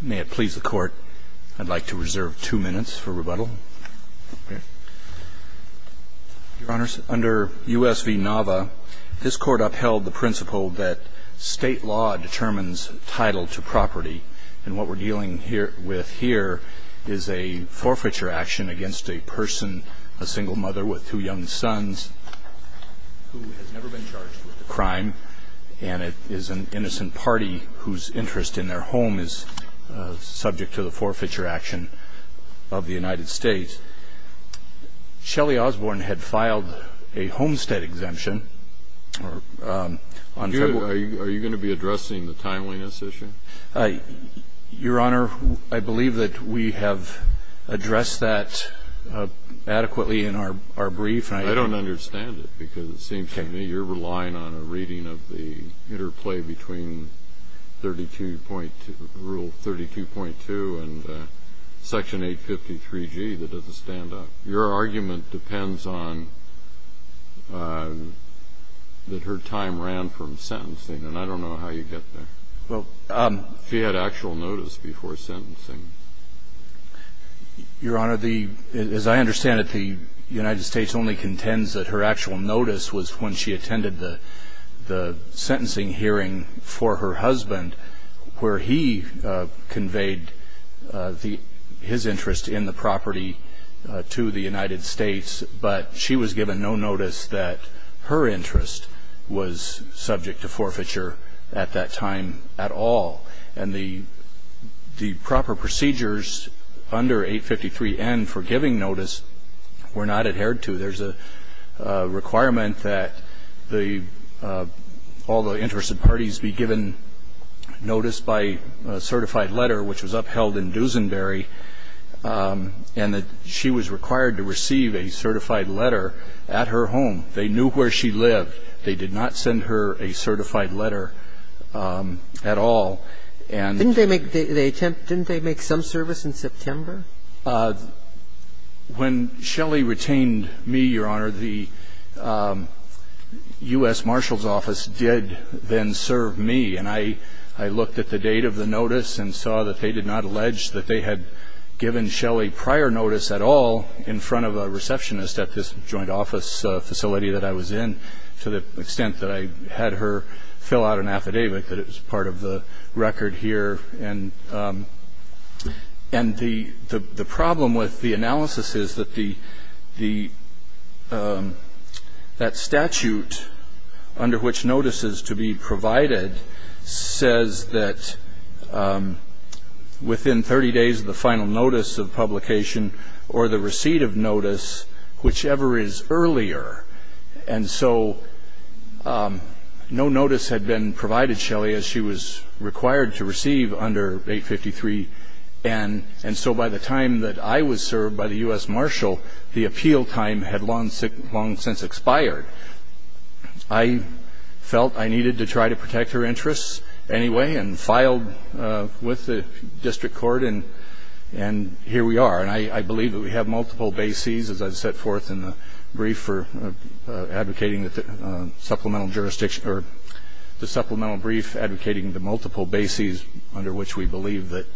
May it please the court, I'd like to reserve two minutes for rebuttal. Your honors, under U.S. v. Nava, this court upheld the principle that state law determines title to property, and what we're dealing with here is a forfeiture action against a person, a single mother with two young sons, who has never been charged with a crime, and it is an innocent party whose interest in their home is subject to the forfeiture action of the United States. Shelley Osborn had filed a homestead exemption. Are you going to be addressing the timeliness issue? Your honor, I believe that we have addressed that adequately in our brief. I don't understand it, because it seems to me you're relying on a reading of the interplay between 32.2, Rule 32.2 and Section 853G that doesn't stand up. Your argument depends on that her time ran from sentencing, and I don't know how you get there. Well, she had actual notice before sentencing. Your honor, as I understand it, the United States only contends that her actual notice was when she attended the sentencing hearing for her husband, where he conveyed his interest in the property to the United States, but she was given no notice that her interest was subject to forfeiture at that time at all, and the proper procedures under 853N for giving notice were not adhered to. There's a requirement that all the interested parties be given notice by a certified letter, which was upheld in Duesenberry, and that she was required to receive a certified letter at her home. They knew where she lived. They did not send her a certified letter at all. Didn't they make some service in September? When Shelley retained me, Your Honor, the U.S. Marshal's Office did then serve me, and I looked at the date of the notice and saw that they did not allege that they had given Shelley prior notice at all in front of a receptionist at this joint office facility that I was in, to the extent that I had her fill out an affidavit that it was part of the record here. And the problem with the analysis is that that statute under which notice is to be provided says that within 30 days of the final notice of publication or the receipt of notice, whichever is earlier, and so no notice had been provided Shelley as she was required to receive under 853N, and so by the time that I was served by the U.S. Marshal, the appeal time had long since expired. I felt I needed to try to protect her interests anyway and filed with the district court, and here we are. And I believe that we have multiple bases, as I've set forth in the brief for advocating that the supplemental jurisdiction or the supplemental brief advocating the multiple bases under which we believe that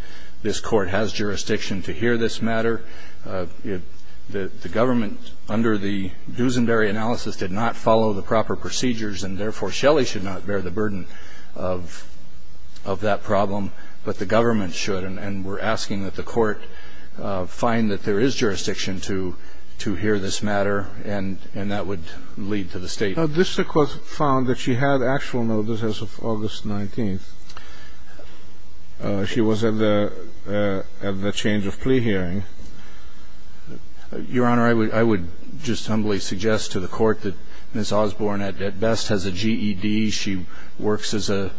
this court has jurisdiction to hear this matter. The government, under the Duesenberry analysis, did not follow the proper procedures, and therefore Shelley should not bear the burden of that problem, but the government should. And we're asking that the court find that there is jurisdiction to hear this matter, and that would lead to the state. The district court found that she had actual notices of August 19th. She was at the change of plea hearing. Your Honor, I would just humbly suggest to the court that Ms. Osborne at best has a GED. She works at a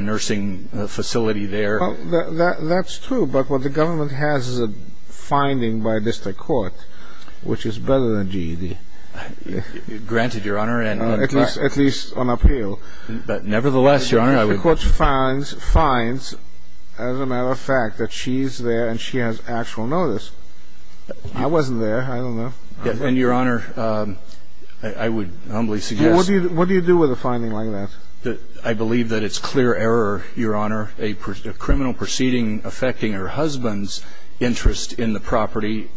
nursing facility there. That's true, but what the government has is a finding by a district court which is better than GED. Granted, Your Honor. At least on appeal. But nevertheless, Your Honor, I would... The district court finds, as a matter of fact, that she's there and she has actual notice. I wasn't there. I don't know. And, Your Honor, I would humbly suggest... What do you do with a finding like that? I believe that it's clear error, Your Honor. A criminal proceeding affecting her husband's interest in the property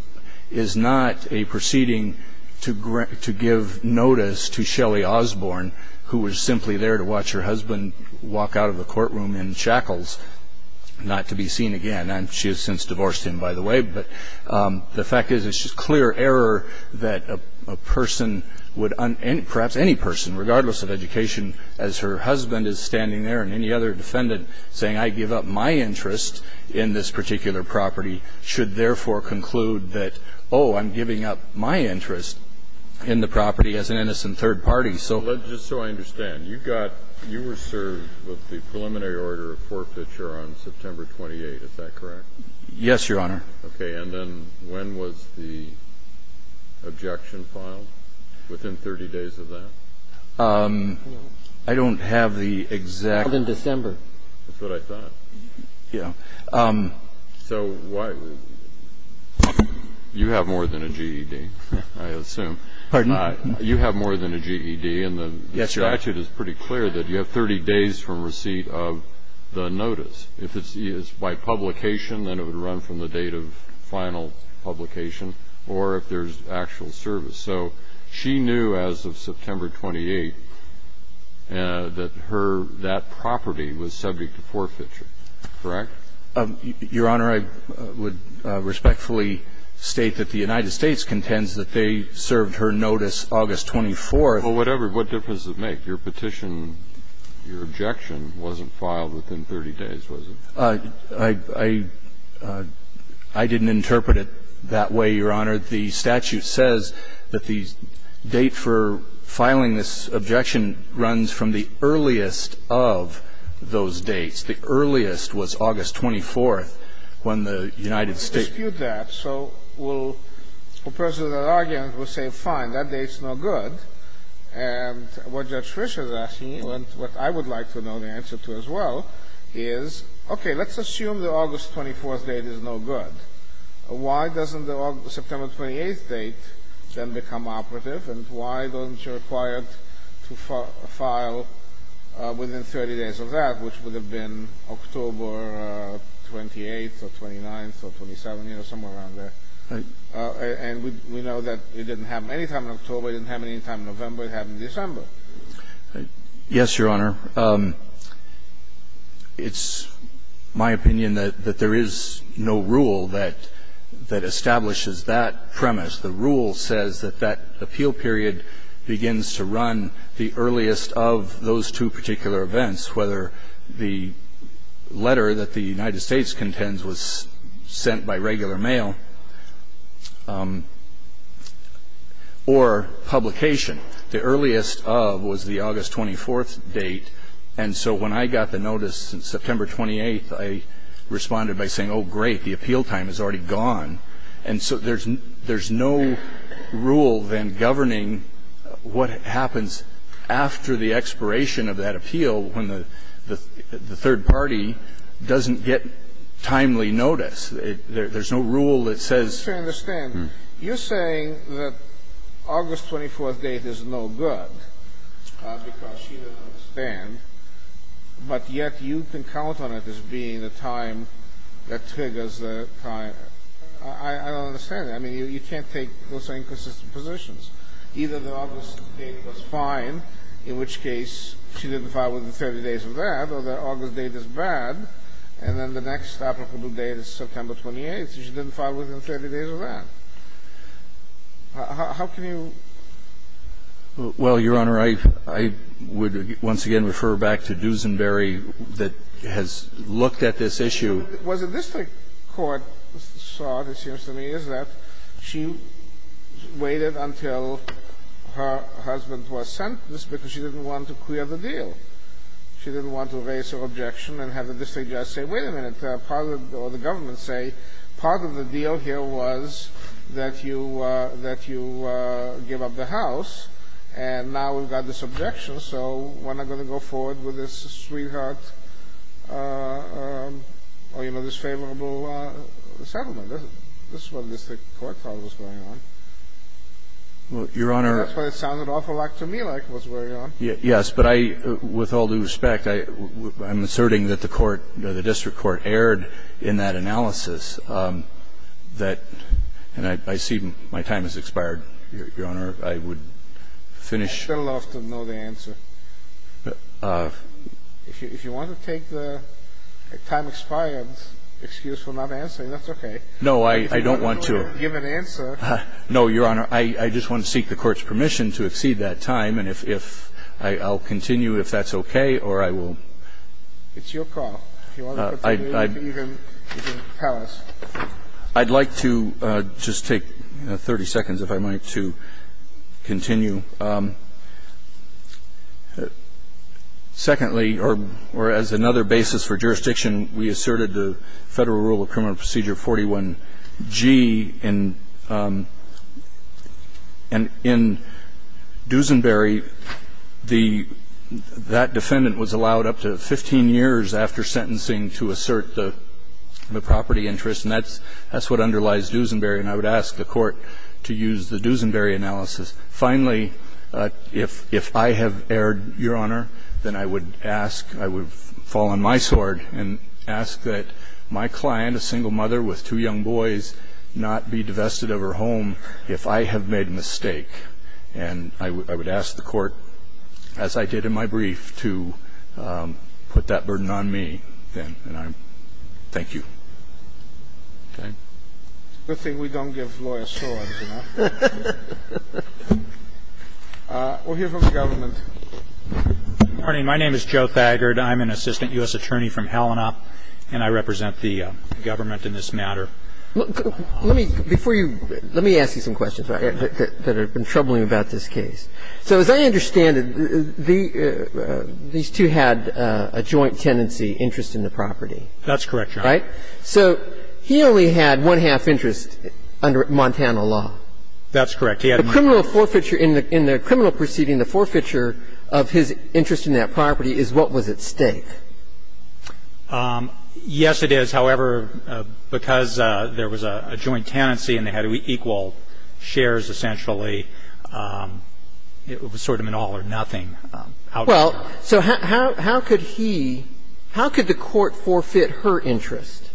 is not a proceeding to give notice to Shelley Osborne, who was simply there to watch her husband walk out of the courtroom in shackles, not to be seen again. She has since divorced him, by the way. But the fact is it's just clear error that a person would... Perhaps any person, regardless of education, as her husband is standing there and any other defendant saying, I give up my interest in this particular property, should therefore conclude that, oh, I'm giving up my interest in the property as an innocent third party. So... Just so I understand, you were served with the preliminary order of forfeiture on September 28th. Is that correct? Yes, Your Honor. Okay. And then when was the objection filed? Within 30 days of that? I don't have the exact... In December. That's what I thought. Yeah. So why... You have more than a GED, I assume. Pardon? You have more than a GED, and the statute is pretty clear that you have 30 days from receipt of the notice. If it's by publication, then it would run from the date of final publication, or if there's actual service. So she knew as of September 28th that that property was subject to forfeiture. Correct? Your Honor, I would respectfully state that the United States contends that they served her notice August 24th. Well, whatever. What difference does it make? Your Petition, your objection, wasn't filed within 30 days, was it? I didn't interpret it that way, Your Honor. The statute says that the date for filing this objection runs from the earliest of those dates. The earliest was August 24th, when the United States... I dispute that. So we'll pursue that argument. We'll say, fine, that date's no good. And what Judge Fischer's asking, and what I would like to know the answer to as well, is, okay, let's assume the August 24th date is no good. Why doesn't the September 28th date then become operative, and why doesn't she require to file within 30 days of that, which would have been October 28th or 29th or 27th, you know, somewhere around there? Right. And we know that it didn't happen any time in October. It didn't happen any time in November. It happened in December. Yes, Your Honor. It's my opinion that there is no rule that establishes that premise. The rule says that that appeal period begins to run the earliest of those two particular events, whether the letter that the United States contends was sent by regular mail or publication. The earliest of was the August 24th date. And so when I got the notice September 28th, I responded by saying, oh, great, the appeal time is already gone. And so there's no rule then governing what happens after the expiration of that appeal when the third party doesn't get timely notice. There's no rule that says. I don't understand. You're saying that August 24th date is no good because she didn't understand, but yet you can count on it as being the time that triggers the time. I don't understand that. I mean, you can't take those inconsistent positions. Either the August date was fine, in which case she didn't file within 30 days of that, or the August date is bad, and then the next applicable date is September 28th. She didn't file within 30 days of that. How can you? Well, Your Honor, I would once again refer back to Duesenberry that has looked at this issue. What the district court thought, it seems to me, is that she waited until her husband was sentenced because she didn't want to clear the deal. She didn't want to raise her objection and have the district judge say, wait a minute, or the government say, part of the deal here was that you give up the house, and now we've got this objection, so we're not going to go forward with this sweetheart or, you know, this favorable settlement. That's what the district court thought was going on. Well, Your Honor. That's what it sounded awful like to me like was going on. Yes, but I, with all due respect, I'm asserting that the court, the district court erred in that analysis that, and I see my time has expired. Your Honor, I would finish. I'd still love to know the answer. If you want to take the time expired excuse for not answering, that's okay. No, I don't want to. If you want to give an answer. No, Your Honor. I just want to seek the court's permission to exceed that time. And if I'll continue, if that's okay, or I will. It's your call. If you want to continue, you can pause. I'd like to just take 30 seconds, if I might, to continue. Secondly, or as another basis for jurisdiction, we asserted the Federal Rule of Criminal Procedure 41-G. In Duesenberry, that defendant was allowed up to 15 years after sentencing to assert the property interest, and that's what underlies Duesenberry. And I would ask the court to use the Duesenberry analysis. Finally, if I have erred, Your Honor, then I would ask, I would fall on my sword and ask that my client, a single mother with two young boys, not be divested of her home if I have made a mistake. And I would ask the court, as I did in my brief, to put that burden on me then. And I thank you. Okay? It's a good thing we don't give lawyers swords, you know. We'll hear from the government. Good morning. My name is Joe Thagard. I'm an assistant U.S. attorney from Helena, and I represent the government in this matter. Let me, before you, let me ask you some questions that have been troubling about this case. So as I understand it, these two had a joint tenancy interest in the property. That's correct, Your Honor. Right? So he only had one-half interest under Montana law. That's correct. He had one-half. The criminal forfeiture in the criminal proceeding, the forfeiture of his interest in that property is what was at stake. Yes, it is. However, because there was a joint tenancy and they had equal shares, essentially, it was sort of an all or nothing outcome. Well, so how could he – how could the court forfeit her interest?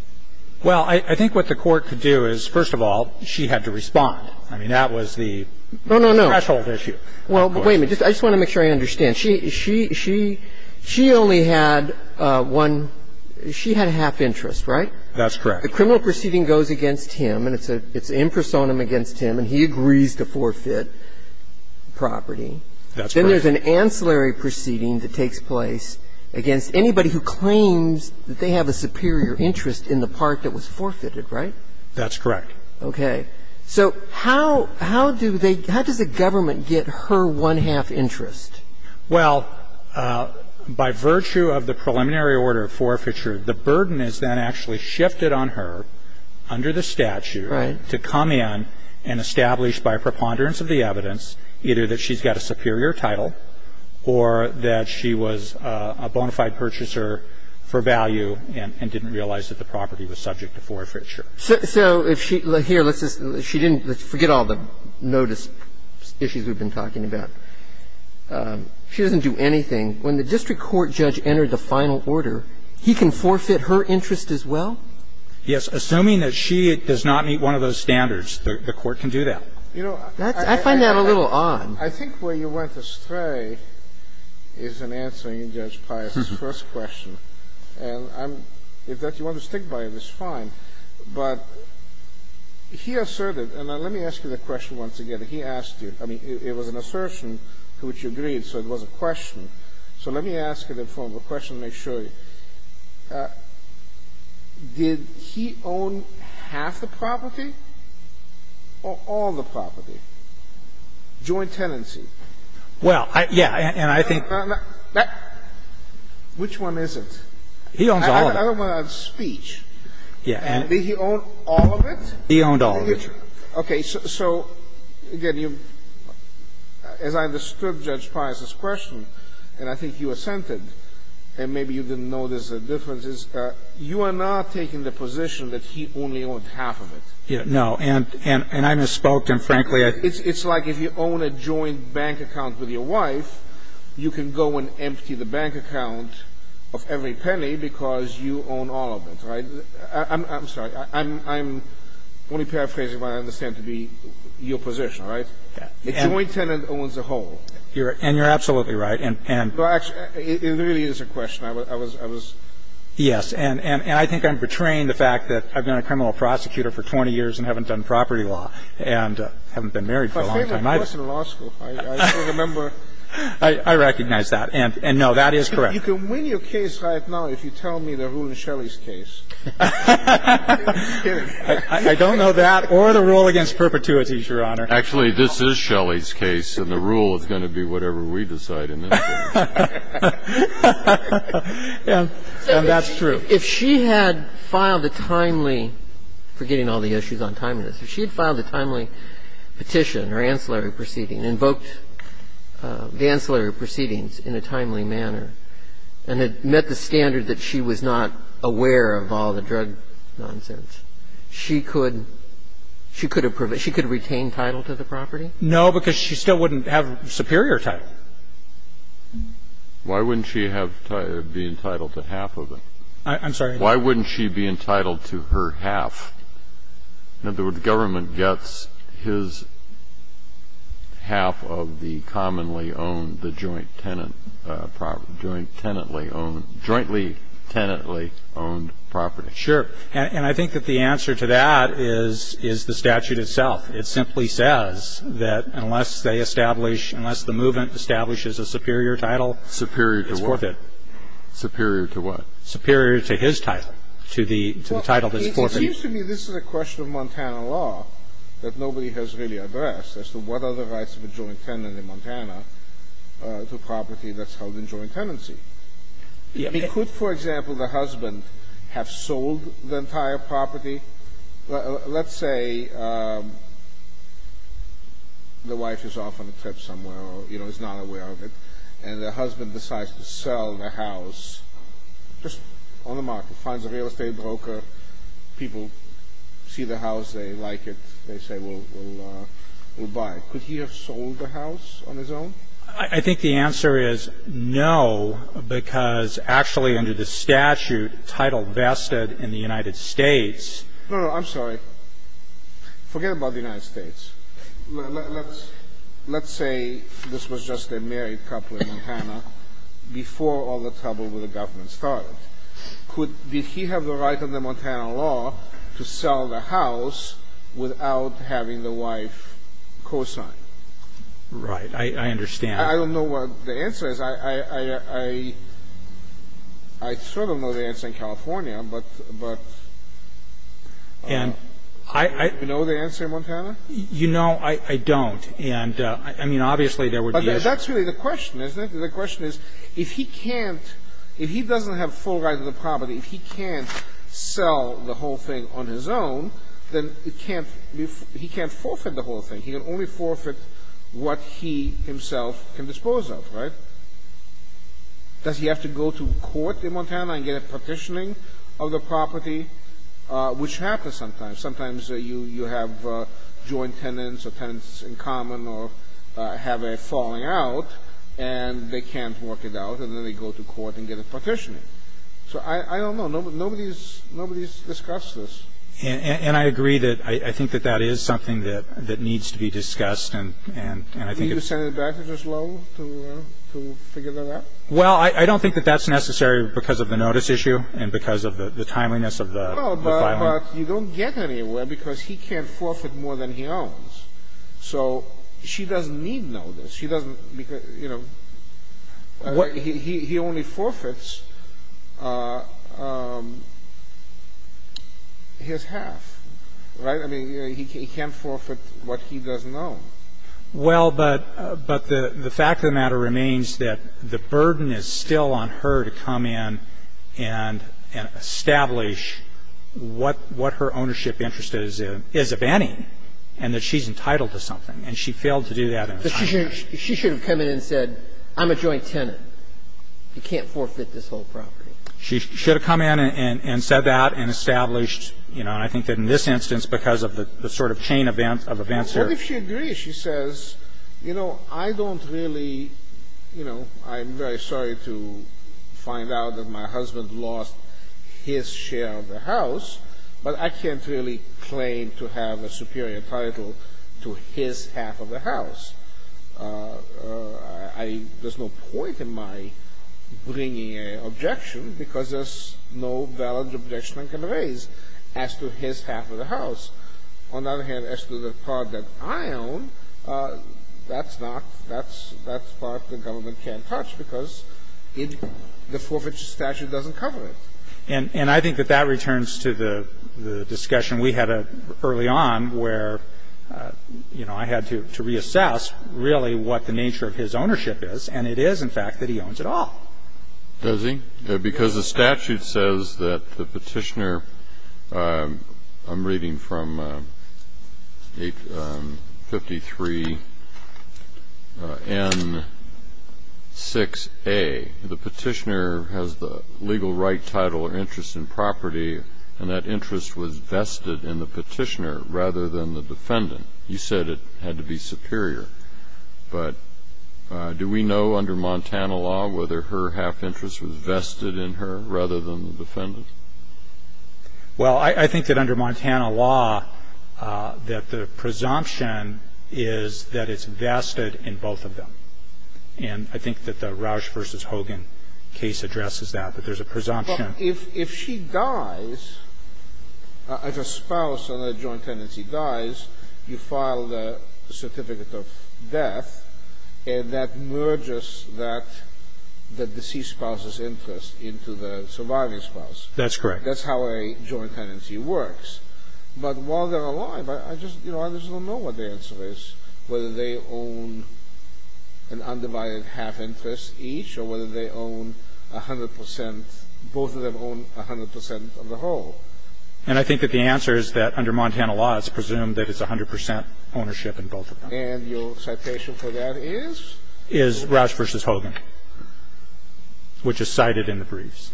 Well, I think what the court could do is, first of all, she had to respond. I mean, that was the threshold issue. No, no, no. Well, wait a minute. I just want to make sure I understand. She only had one – she had a half interest, right? That's correct. The criminal proceeding goes against him and it's in personam against him and he agrees to forfeit the property. That's correct. Then there's an ancillary proceeding that takes place against anybody who claims that they have a superior interest in the part that was forfeited, right? That's correct. Okay. So how do they – how does the government get her one-half interest? Well, by virtue of the preliminary order of forfeiture, the burden is then actually shifted on her under the statute to come in and establish by a preponderance of the evidence either that she's got a superior title or that she was a bona fide purchaser for value and didn't realize that the property was subject to forfeiture. So if she – here, let's just – she didn't – let's forget all the notice issues we've been talking about. She doesn't do anything. When the district court judge entered the final order, he can forfeit her interest as well? Yes. Assuming that she does not meet one of those standards, the Court can do that. You know, I find that a little odd. I think where you went astray is in answering Judge Pius's first question. And I'm – if that's what you want to stick by, it's fine. But he asserted – and let me ask you the question once again. He asked you. I mean, it was an assertion to which you agreed, so it was a question. So let me ask it in the form of a question to make sure. Did he own half the property or all the property? Joint tenancy. Well, yeah, and I think – Which one is it? He owns all of it. I don't want to have speech. Yeah. Did he own all of it? He owned all of it, Your Honor. Okay. So, again, you – as I understood Judge Pius's question, and I think you assented and maybe you didn't notice the differences, you are not taking the position that he only owned half of it. And I misspoke, and frankly, I – It's like if you own a joint bank account with your wife, you can go and empty the bank account of every penny because you own all of it, right? I'm sorry. I'm only paraphrasing what I understand to be your position, right? A joint tenant owns a whole. And you're absolutely right. No, actually, it really is a question. I was – Yes, and I think I'm betraying the fact that I've been a criminal prosecutor for 20 years and haven't done property law and haven't been married for a long time. My favorite course in law school. I still remember. I recognize that. And, no, that is correct. You can win your case right now if you tell me the rule in Shelley's case. I'm kidding. I don't know that or the rule against perpetuities, Your Honor. Actually, this is Shelley's case, and the rule is going to be whatever we decide in this case. And that's true. If she had filed a timely – forgetting all the issues on timeliness – if she had filed a timely petition or ancillary proceeding, invoked the ancillary proceedings in a timely manner and had met the standard that she was not aware of all the drug nonsense, she could – she could have retained title to the property? No, because she still wouldn't have superior title. Why wouldn't she have – be entitled to half of it? I'm sorry? Why wouldn't she be entitled to her half? In other words, government gets his half of the commonly owned, the joint tenant property – jointly tenantly owned property. Sure. And I think that the answer to that is the statute itself. It simply says that unless they establish – unless the movement establishes a superior title, it's worth it. Superior to what? Superior to what? Superior to his title, to the title that's worth it. Well, it seems to me this is a question of Montana law that nobody has really addressed as to what are the rights of a joint tenant in Montana to property that's held in joint tenancy. I mean, could, for example, the husband have sold the entire property? Let's say the wife is off on a trip somewhere or, you know, is not aware of it, and the husband decides to sell the house just on the market, finds a real estate broker, people see the house, they like it, they say, well, we'll buy it. Could he have sold the house on his own? I think the answer is no, because actually under the statute titled vested in the United States – No, no, I'm sorry. Forget about the United States. Let's say this was just a married couple in Montana before all the trouble with the government started. Could – did he have the right under Montana law to sell the house without having the wife cosign? Right. I understand. I don't know what the answer is. I sort of know the answer in California, but – but do you know the answer in Montana? You know, I don't. And I mean, obviously, there would be issues. But that's really the question, isn't it? The question is, if he can't – if he doesn't have full right to the property, if he can't sell the whole thing on his own, then he can't – he can't forfeit the whole thing. He can only forfeit what he himself can dispose of, right? Does he have to go to court in Montana and get a partitioning of the property, which happens sometimes. Sometimes you have joint tenants or tenants in common or have a falling out, and they can't work it out, and then they go to court and get a partitioning. So I don't know. Nobody's – nobody's discussed this. And I agree that – I think that that is something that needs to be discussed, and I think it's – Do you send it back to Juslow to figure that out? Well, I don't think that that's necessary because of the notice issue and because of the timeliness of the filing. No, but you don't get anywhere because he can't forfeit more than he owns. So she doesn't need notice. She doesn't – you know, he only forfeits. He only forfeits his half, right? I mean, he can't forfeit what he doesn't own. Well, but the fact of the matter remains that the burden is still on her to come in and establish what her ownership interest is, if any, and that she's entitled to something. And she failed to do that. But she should have come in and said, I'm a joint tenant. You can't forfeit this whole property. She should have come in and said that and established, you know, and I think that in this instance, because of the sort of chain of events here. What if she agrees? She says, you know, I don't really, you know, I'm very sorry to find out that my husband lost his share of the house, but I can't really claim to have a superior title to his half of the house. I – there's no point in my bringing an objection because there's no valid objection I can raise as to his half of the house. On the other hand, as to the part that I own, that's not – that's part the government can't touch because the forfeiture statute doesn't cover it. And I think that that returns to the discussion we had early on where, you know, I had to reassess really what the nature of his ownership is. And it is, in fact, that he owns it all. Does he? Because the statute says that the petitioner – I'm reading from 853 N6A. The petitioner has the legal right, title, or interest in property, and that interest was vested in the petitioner rather than the defendant. You said it had to be superior. But do we know under Montana law whether her half interest was vested in her rather than the defendant? Well, I think that under Montana law that the presumption is that it's vested in both of them. And I think that the Roush v. Hogan case addresses that, that there's a presumption. But if she dies, if a spouse, another joint tenancy dies, you file the certificate of death, and that merges that deceased spouse's interest into the surviving spouse. That's correct. That's how a joint tenancy works. But while they're alive, I just don't know what the answer is, whether they own an undivided half interest each or whether they own 100 percent – both of them own 100 percent of the whole. And I think that the answer is that under Montana law it's presumed that it's 100 percent ownership in both of them. And your citation for that is? Is Roush v. Hogan, which is cited in the briefs.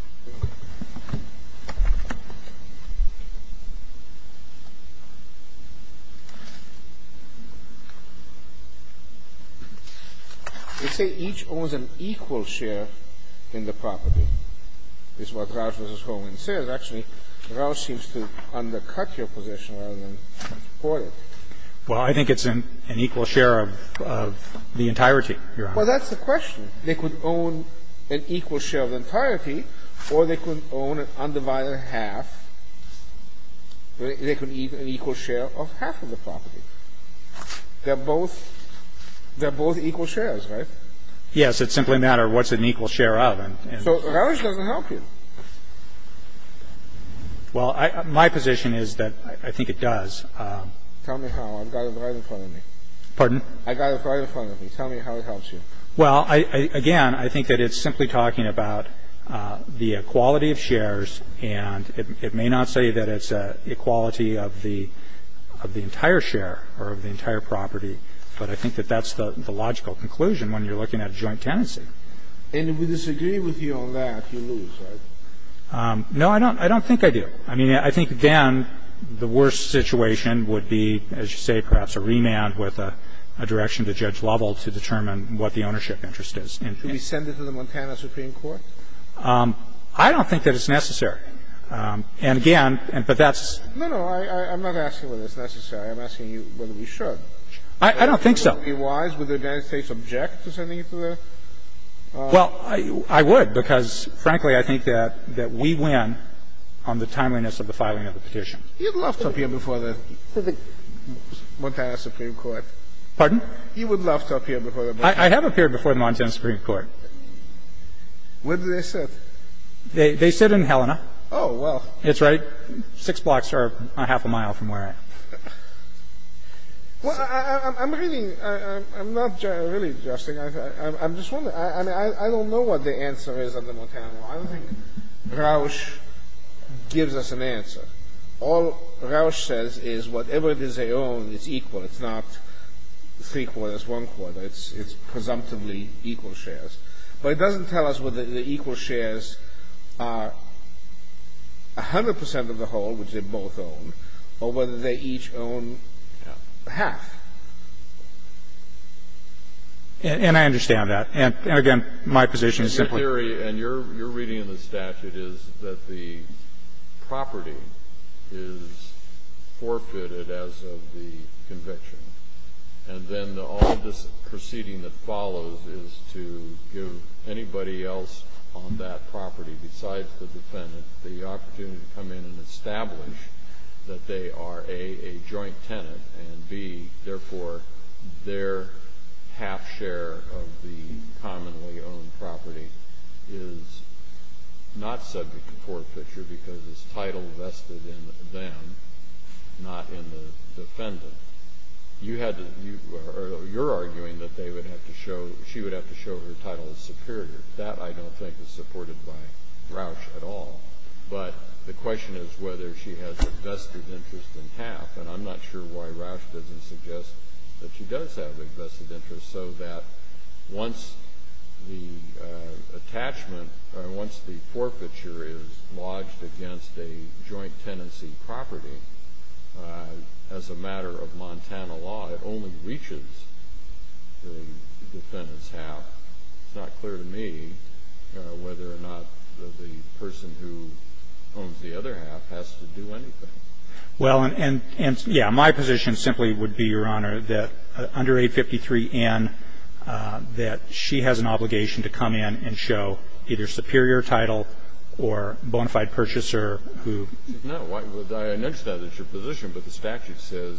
They say each owns an equal share in the property, is what Roush v. Hogan says. Actually, Roush seems to undercut your position rather than support it. Well, I think it's an equal share of the entirety, Your Honor. Well, that's the question. They could own an equal share of the entirety, or they could own an undivided half. They could have an equal share of half of the property. They're both equal shares, right? Yes. It's simply a matter of what's an equal share of. So Roush doesn't help you. Well, my position is that I think it does. Tell me how. I've got it right in front of me. Pardon? I've got it right in front of me. Tell me how it helps you. Well, again, I think that it's simply talking about the equality of shares, and it may not say that it's an equality of the entire share or of the entire property, but I think that that's the logical conclusion when you're looking at a joint tenancy. And if we disagree with you on that, you lose, right? No, I don't think I do. I mean, I think then the worst situation would be, as you say, perhaps a remand with a direction to Judge Lovell to determine what the ownership interest is. Should we send it to the Montana Supreme Court? I don't think that it's necessary. And, again, but that's No, no. I'm not asking whether it's necessary. I'm asking you whether we should. I don't think so. Would it be wise? Would the United States object to sending it to them? Well, I would, because, frankly, I think that we win on the timeliness of the filing of the petition. He would love to appear before the Montana Supreme Court. Pardon? He would love to appear before the Montana Supreme Court. I have appeared before the Montana Supreme Court. Where do they sit? They sit in Helena. Oh, well. That's right. Six blocks or a half a mile from where I am. Well, I'm reading. I'm not really adjusting. I'm just wondering. I mean, I don't know what the answer is under Montana law. I don't think Rausch gives us an answer. All Rausch says is whatever it is they own, it's equal. It's not three-quarters, one-quarter. It's presumptively equal shares. But it doesn't tell us whether the equal shares are 100 percent of the whole, which they both own, or whether they each own half. And I understand that. And, again, my position is simply. My theory, and you're reading in the statute, is that the property is forfeited as of the conviction. And then all of this proceeding that follows is to give anybody else on that property, besides the defendant, the opportunity to come in and establish that they are, A, a joint tenant, and, B, therefore, their half share of the commonly owned property is not subject to forfeiture because it's title vested in them, not in the defendant. You're arguing that she would have to show her title as superior. That, I don't think, is supported by Rausch at all. But the question is whether she has a vested interest in half. And I'm not sure why Rausch doesn't suggest that she does have a vested interest, so that once the attachment or once the forfeiture is lodged against a joint tenancy property, as a matter of Montana law, it only reaches the defendant's half. It's not clear to me whether or not the person who owns the other half has to do anything. Well, and, yeah, my position simply would be, Your Honor, that under 853N, that she has an obligation to come in and show either superior title or bona fide purchaser who ---- No. I understand that's your position. But the statute says,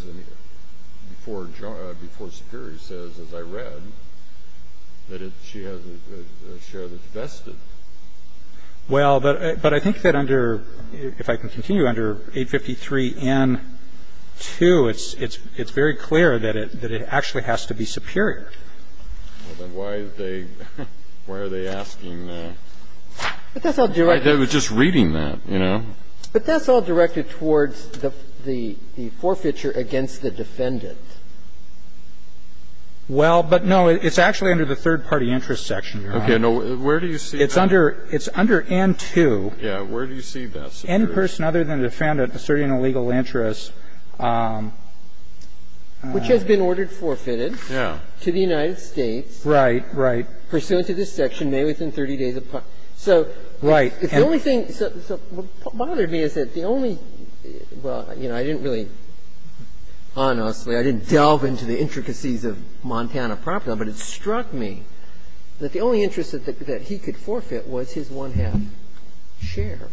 before Superior says, as I read, that she has a share that's vested. Well, but I think that under ---- if I can continue, under 853N-2, it's very clear that it actually has to be superior. Well, then why is they ---- why are they asking the ---- But that's all directed ---- They were just reading that, you know. But that's all directed towards the forfeiture against the defendant. Well, but, no, it's actually under the third-party interest section, Your Honor. Where do you see that? It's under N-2. Yeah. Where do you see that superior? Any person other than the defendant asserting a legal interest. Which has been ordered forfeited. Yeah. To the United States. Right, right. Pursuant to this section, may within 30 days of ---- Right. So the only thing that bothered me is that the only ---- well, you know, I didn't really ---- honestly, I didn't delve into the intricacies of Montana property law, but it struck me that the only interest that he could forfeit was his one-half share.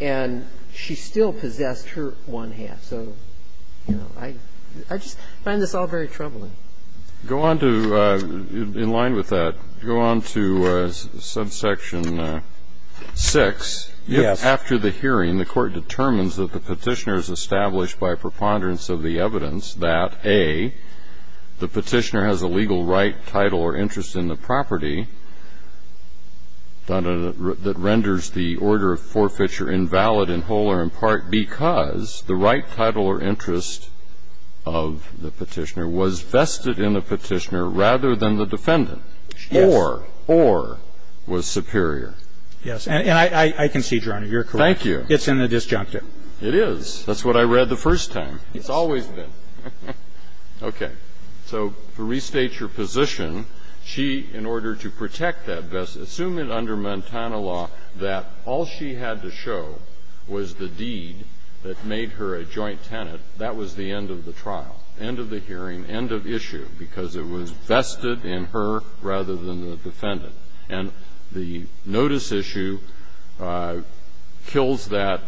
And she still possessed her one-half. So, you know, I just find this all very troubling. Go on to ---- in line with that, go on to subsection 6. Yes. If after the hearing the Court determines that the Petitioner has established by preponderance of the evidence that, A, the Petitioner has a legal right, title or interest in the property that renders the order of forfeiture invalid and whole or in part because the right, title or interest of the Petitioner was vested in the Petitioner rather than the defendant. Yes. Or, or was superior. Yes. And I concede, Your Honor, you're correct. Thank you. It's in the disjunctive. It is. That's what I read the first time. It's always been. Okay. So to restate your position, she, in order to protect that, assume it under Montana law that all she had to show was the deed that made her a joint tenant. That was the end of the trial, end of the hearing, end of issue, because it was vested in her rather than the defendant. And the notice issue kills that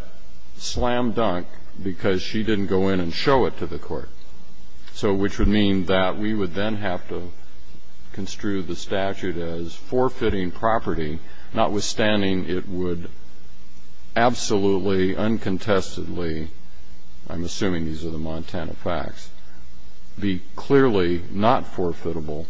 slam dunk because she didn't go in and show it to the court, so which would mean that we would then have to construe the statute as forfeiting property, notwithstanding it would absolutely, uncontestedly, I'm assuming these are the Montana facts, be clearly not forfeitable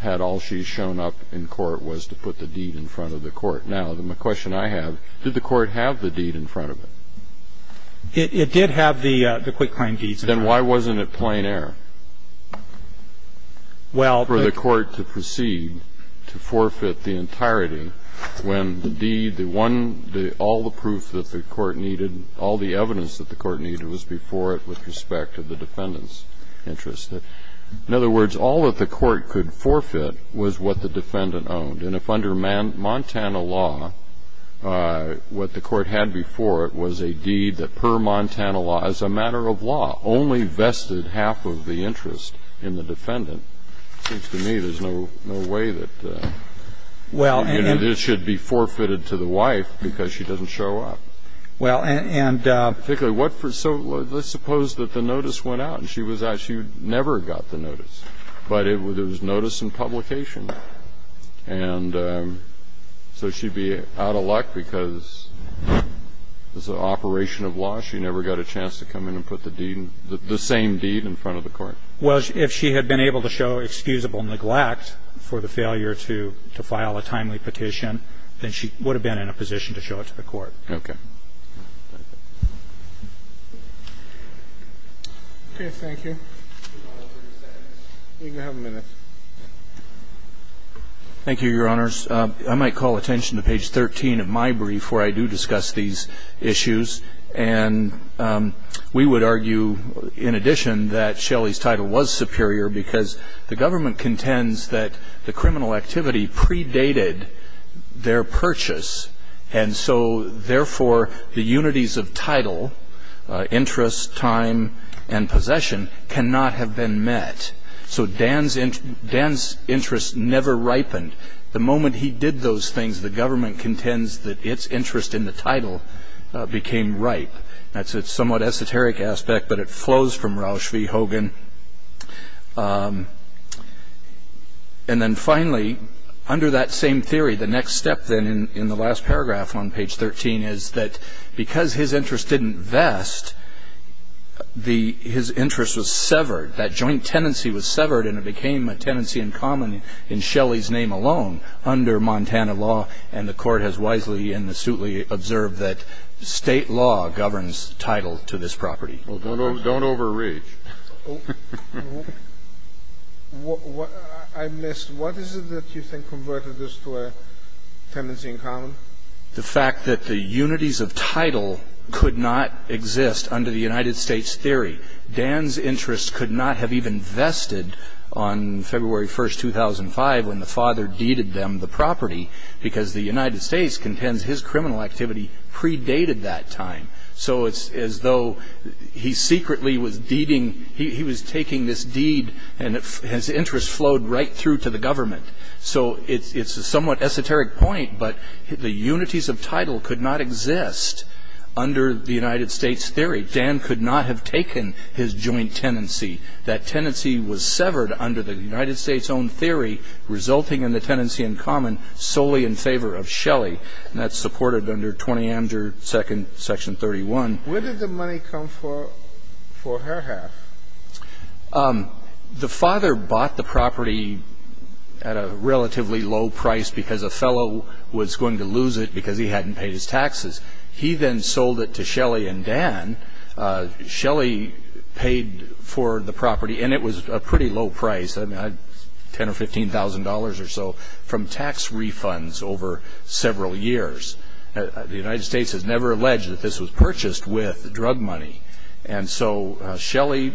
had all she shown up in court with was the deed in front of the court. Now, my question I have, did the court have the deed in front of it? It did have the quick claim deeds in front of it. Then why wasn't it plain error for the court to proceed to forfeit the entirety when the deed, the one, all the proof that the court needed, all the evidence that the court needed was before it with respect to the defendant's interest? In other words, all that the court could forfeit was what the defendant owned. And if under Montana law, what the court had before it was a deed that per Montana law, as a matter of law, only vested half of the interest in the defendant, it seems to me there's no way that this should be forfeited to the wife because she doesn't show up. Well, and so let's suppose that the notice went out and she was actually never got the notice, but it was notice in publication. And so she'd be out of luck because as an operation of law, she never got a chance to come in and put the deed, the same deed in front of the court. Well, if she had been able to show excusable neglect for the failure to file a timely petition, then she would have been in a position to show it to the court. Okay. Thank you. You can have a minute. Thank you, Your Honors. I might call attention to page 13 of my brief where I do discuss these issues. And we would argue, in addition, that Shelley's title was superior because the government contends that the criminal activity predated their purchase. And so, therefore, the unities of title, interest, time, and possession, cannot have been met. So Dan's interest never ripened. The moment he did those things, the government contends that its interest in the title became ripe. That's a somewhat esoteric aspect, but it flows from Roush v. Hogan. And then, finally, under that same theory, the next step, then, in the last paragraph on page 13 is that because his interest didn't vest, his interest was severed, that joint tenancy was severed, and it became a tenancy in common in Shelley's name alone under Montana law. And the Court has wisely and astutely observed that State law governs title to this property. Well, don't overreach. I missed. What is it that you think converted this to a tenancy in common? The fact that the unities of title could not exist under the United States theory. Dan's interest could not have even vested on February 1, 2005, when the father deeded them the property, because the United States contends his criminal activity predated that time. So it's as though he secretly was taking this deed and his interest flowed right through to the government. So it's a somewhat esoteric point, but the unities of title could not exist under the United States theory. Dan could not have taken his joint tenancy. That tenancy was severed under the United States' own theory, resulting in the tenancy in common solely in favor of Shelley. And that's supported under 20 Amateur II, Section 31. Where did the money come for her half? The father bought the property at a relatively low price because a fellow was going to lose it because he hadn't paid his taxes. He then sold it to Shelley and Dan. Shelley paid for the property, and it was a pretty low price. I mean, I had $10,000 or $15,000 or so from tax refunds over several years. The United States has never alleged that this was purchased with drug money. And so Shelley,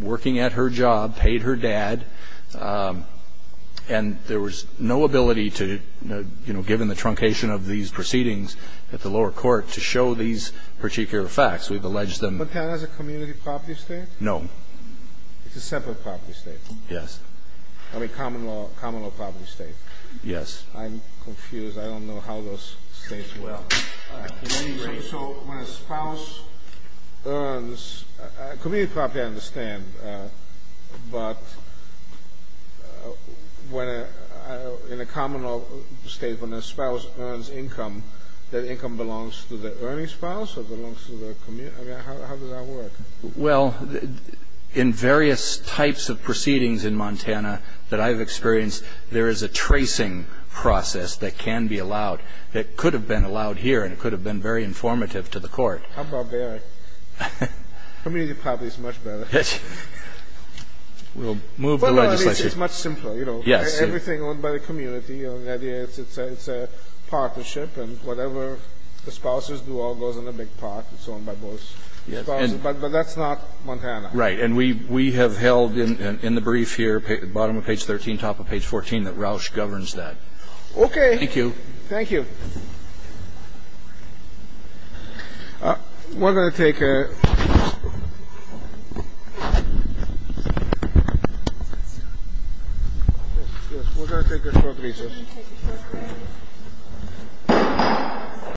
working at her job, paid her dad. And there was no ability to, you know, given the truncation of these proceedings at the lower court, to show these particular facts. We've alleged them. But Dan has a community property estate? No. It's a separate property estate. Yes. I mean, common law property estate. Yes. I'm confused. I don't know how those states work. So when a spouse earns community property, I understand. But in a common law estate, when a spouse earns income, that income belongs to the earning spouse or belongs to the community? I mean, how does that work? Well, in various types of proceedings in Montana that I've experienced, there is a tracing process that can be allowed, that could have been allowed here, and it could have been very informative to the court. How barbaric. Community property is much better. We'll move the legislation. Well, no, at least it's much simpler, you know. Yes. Everything owned by the community. It's a partnership, and whatever the spouses do all goes in a big pot. It's owned by both spouses. But that's not Montana. Right. And we have held in the brief here, bottom of page 13, top of page 14, that Roush governs that. Okay. Thank you. Thank you. We're going to take a short recess. Thank you.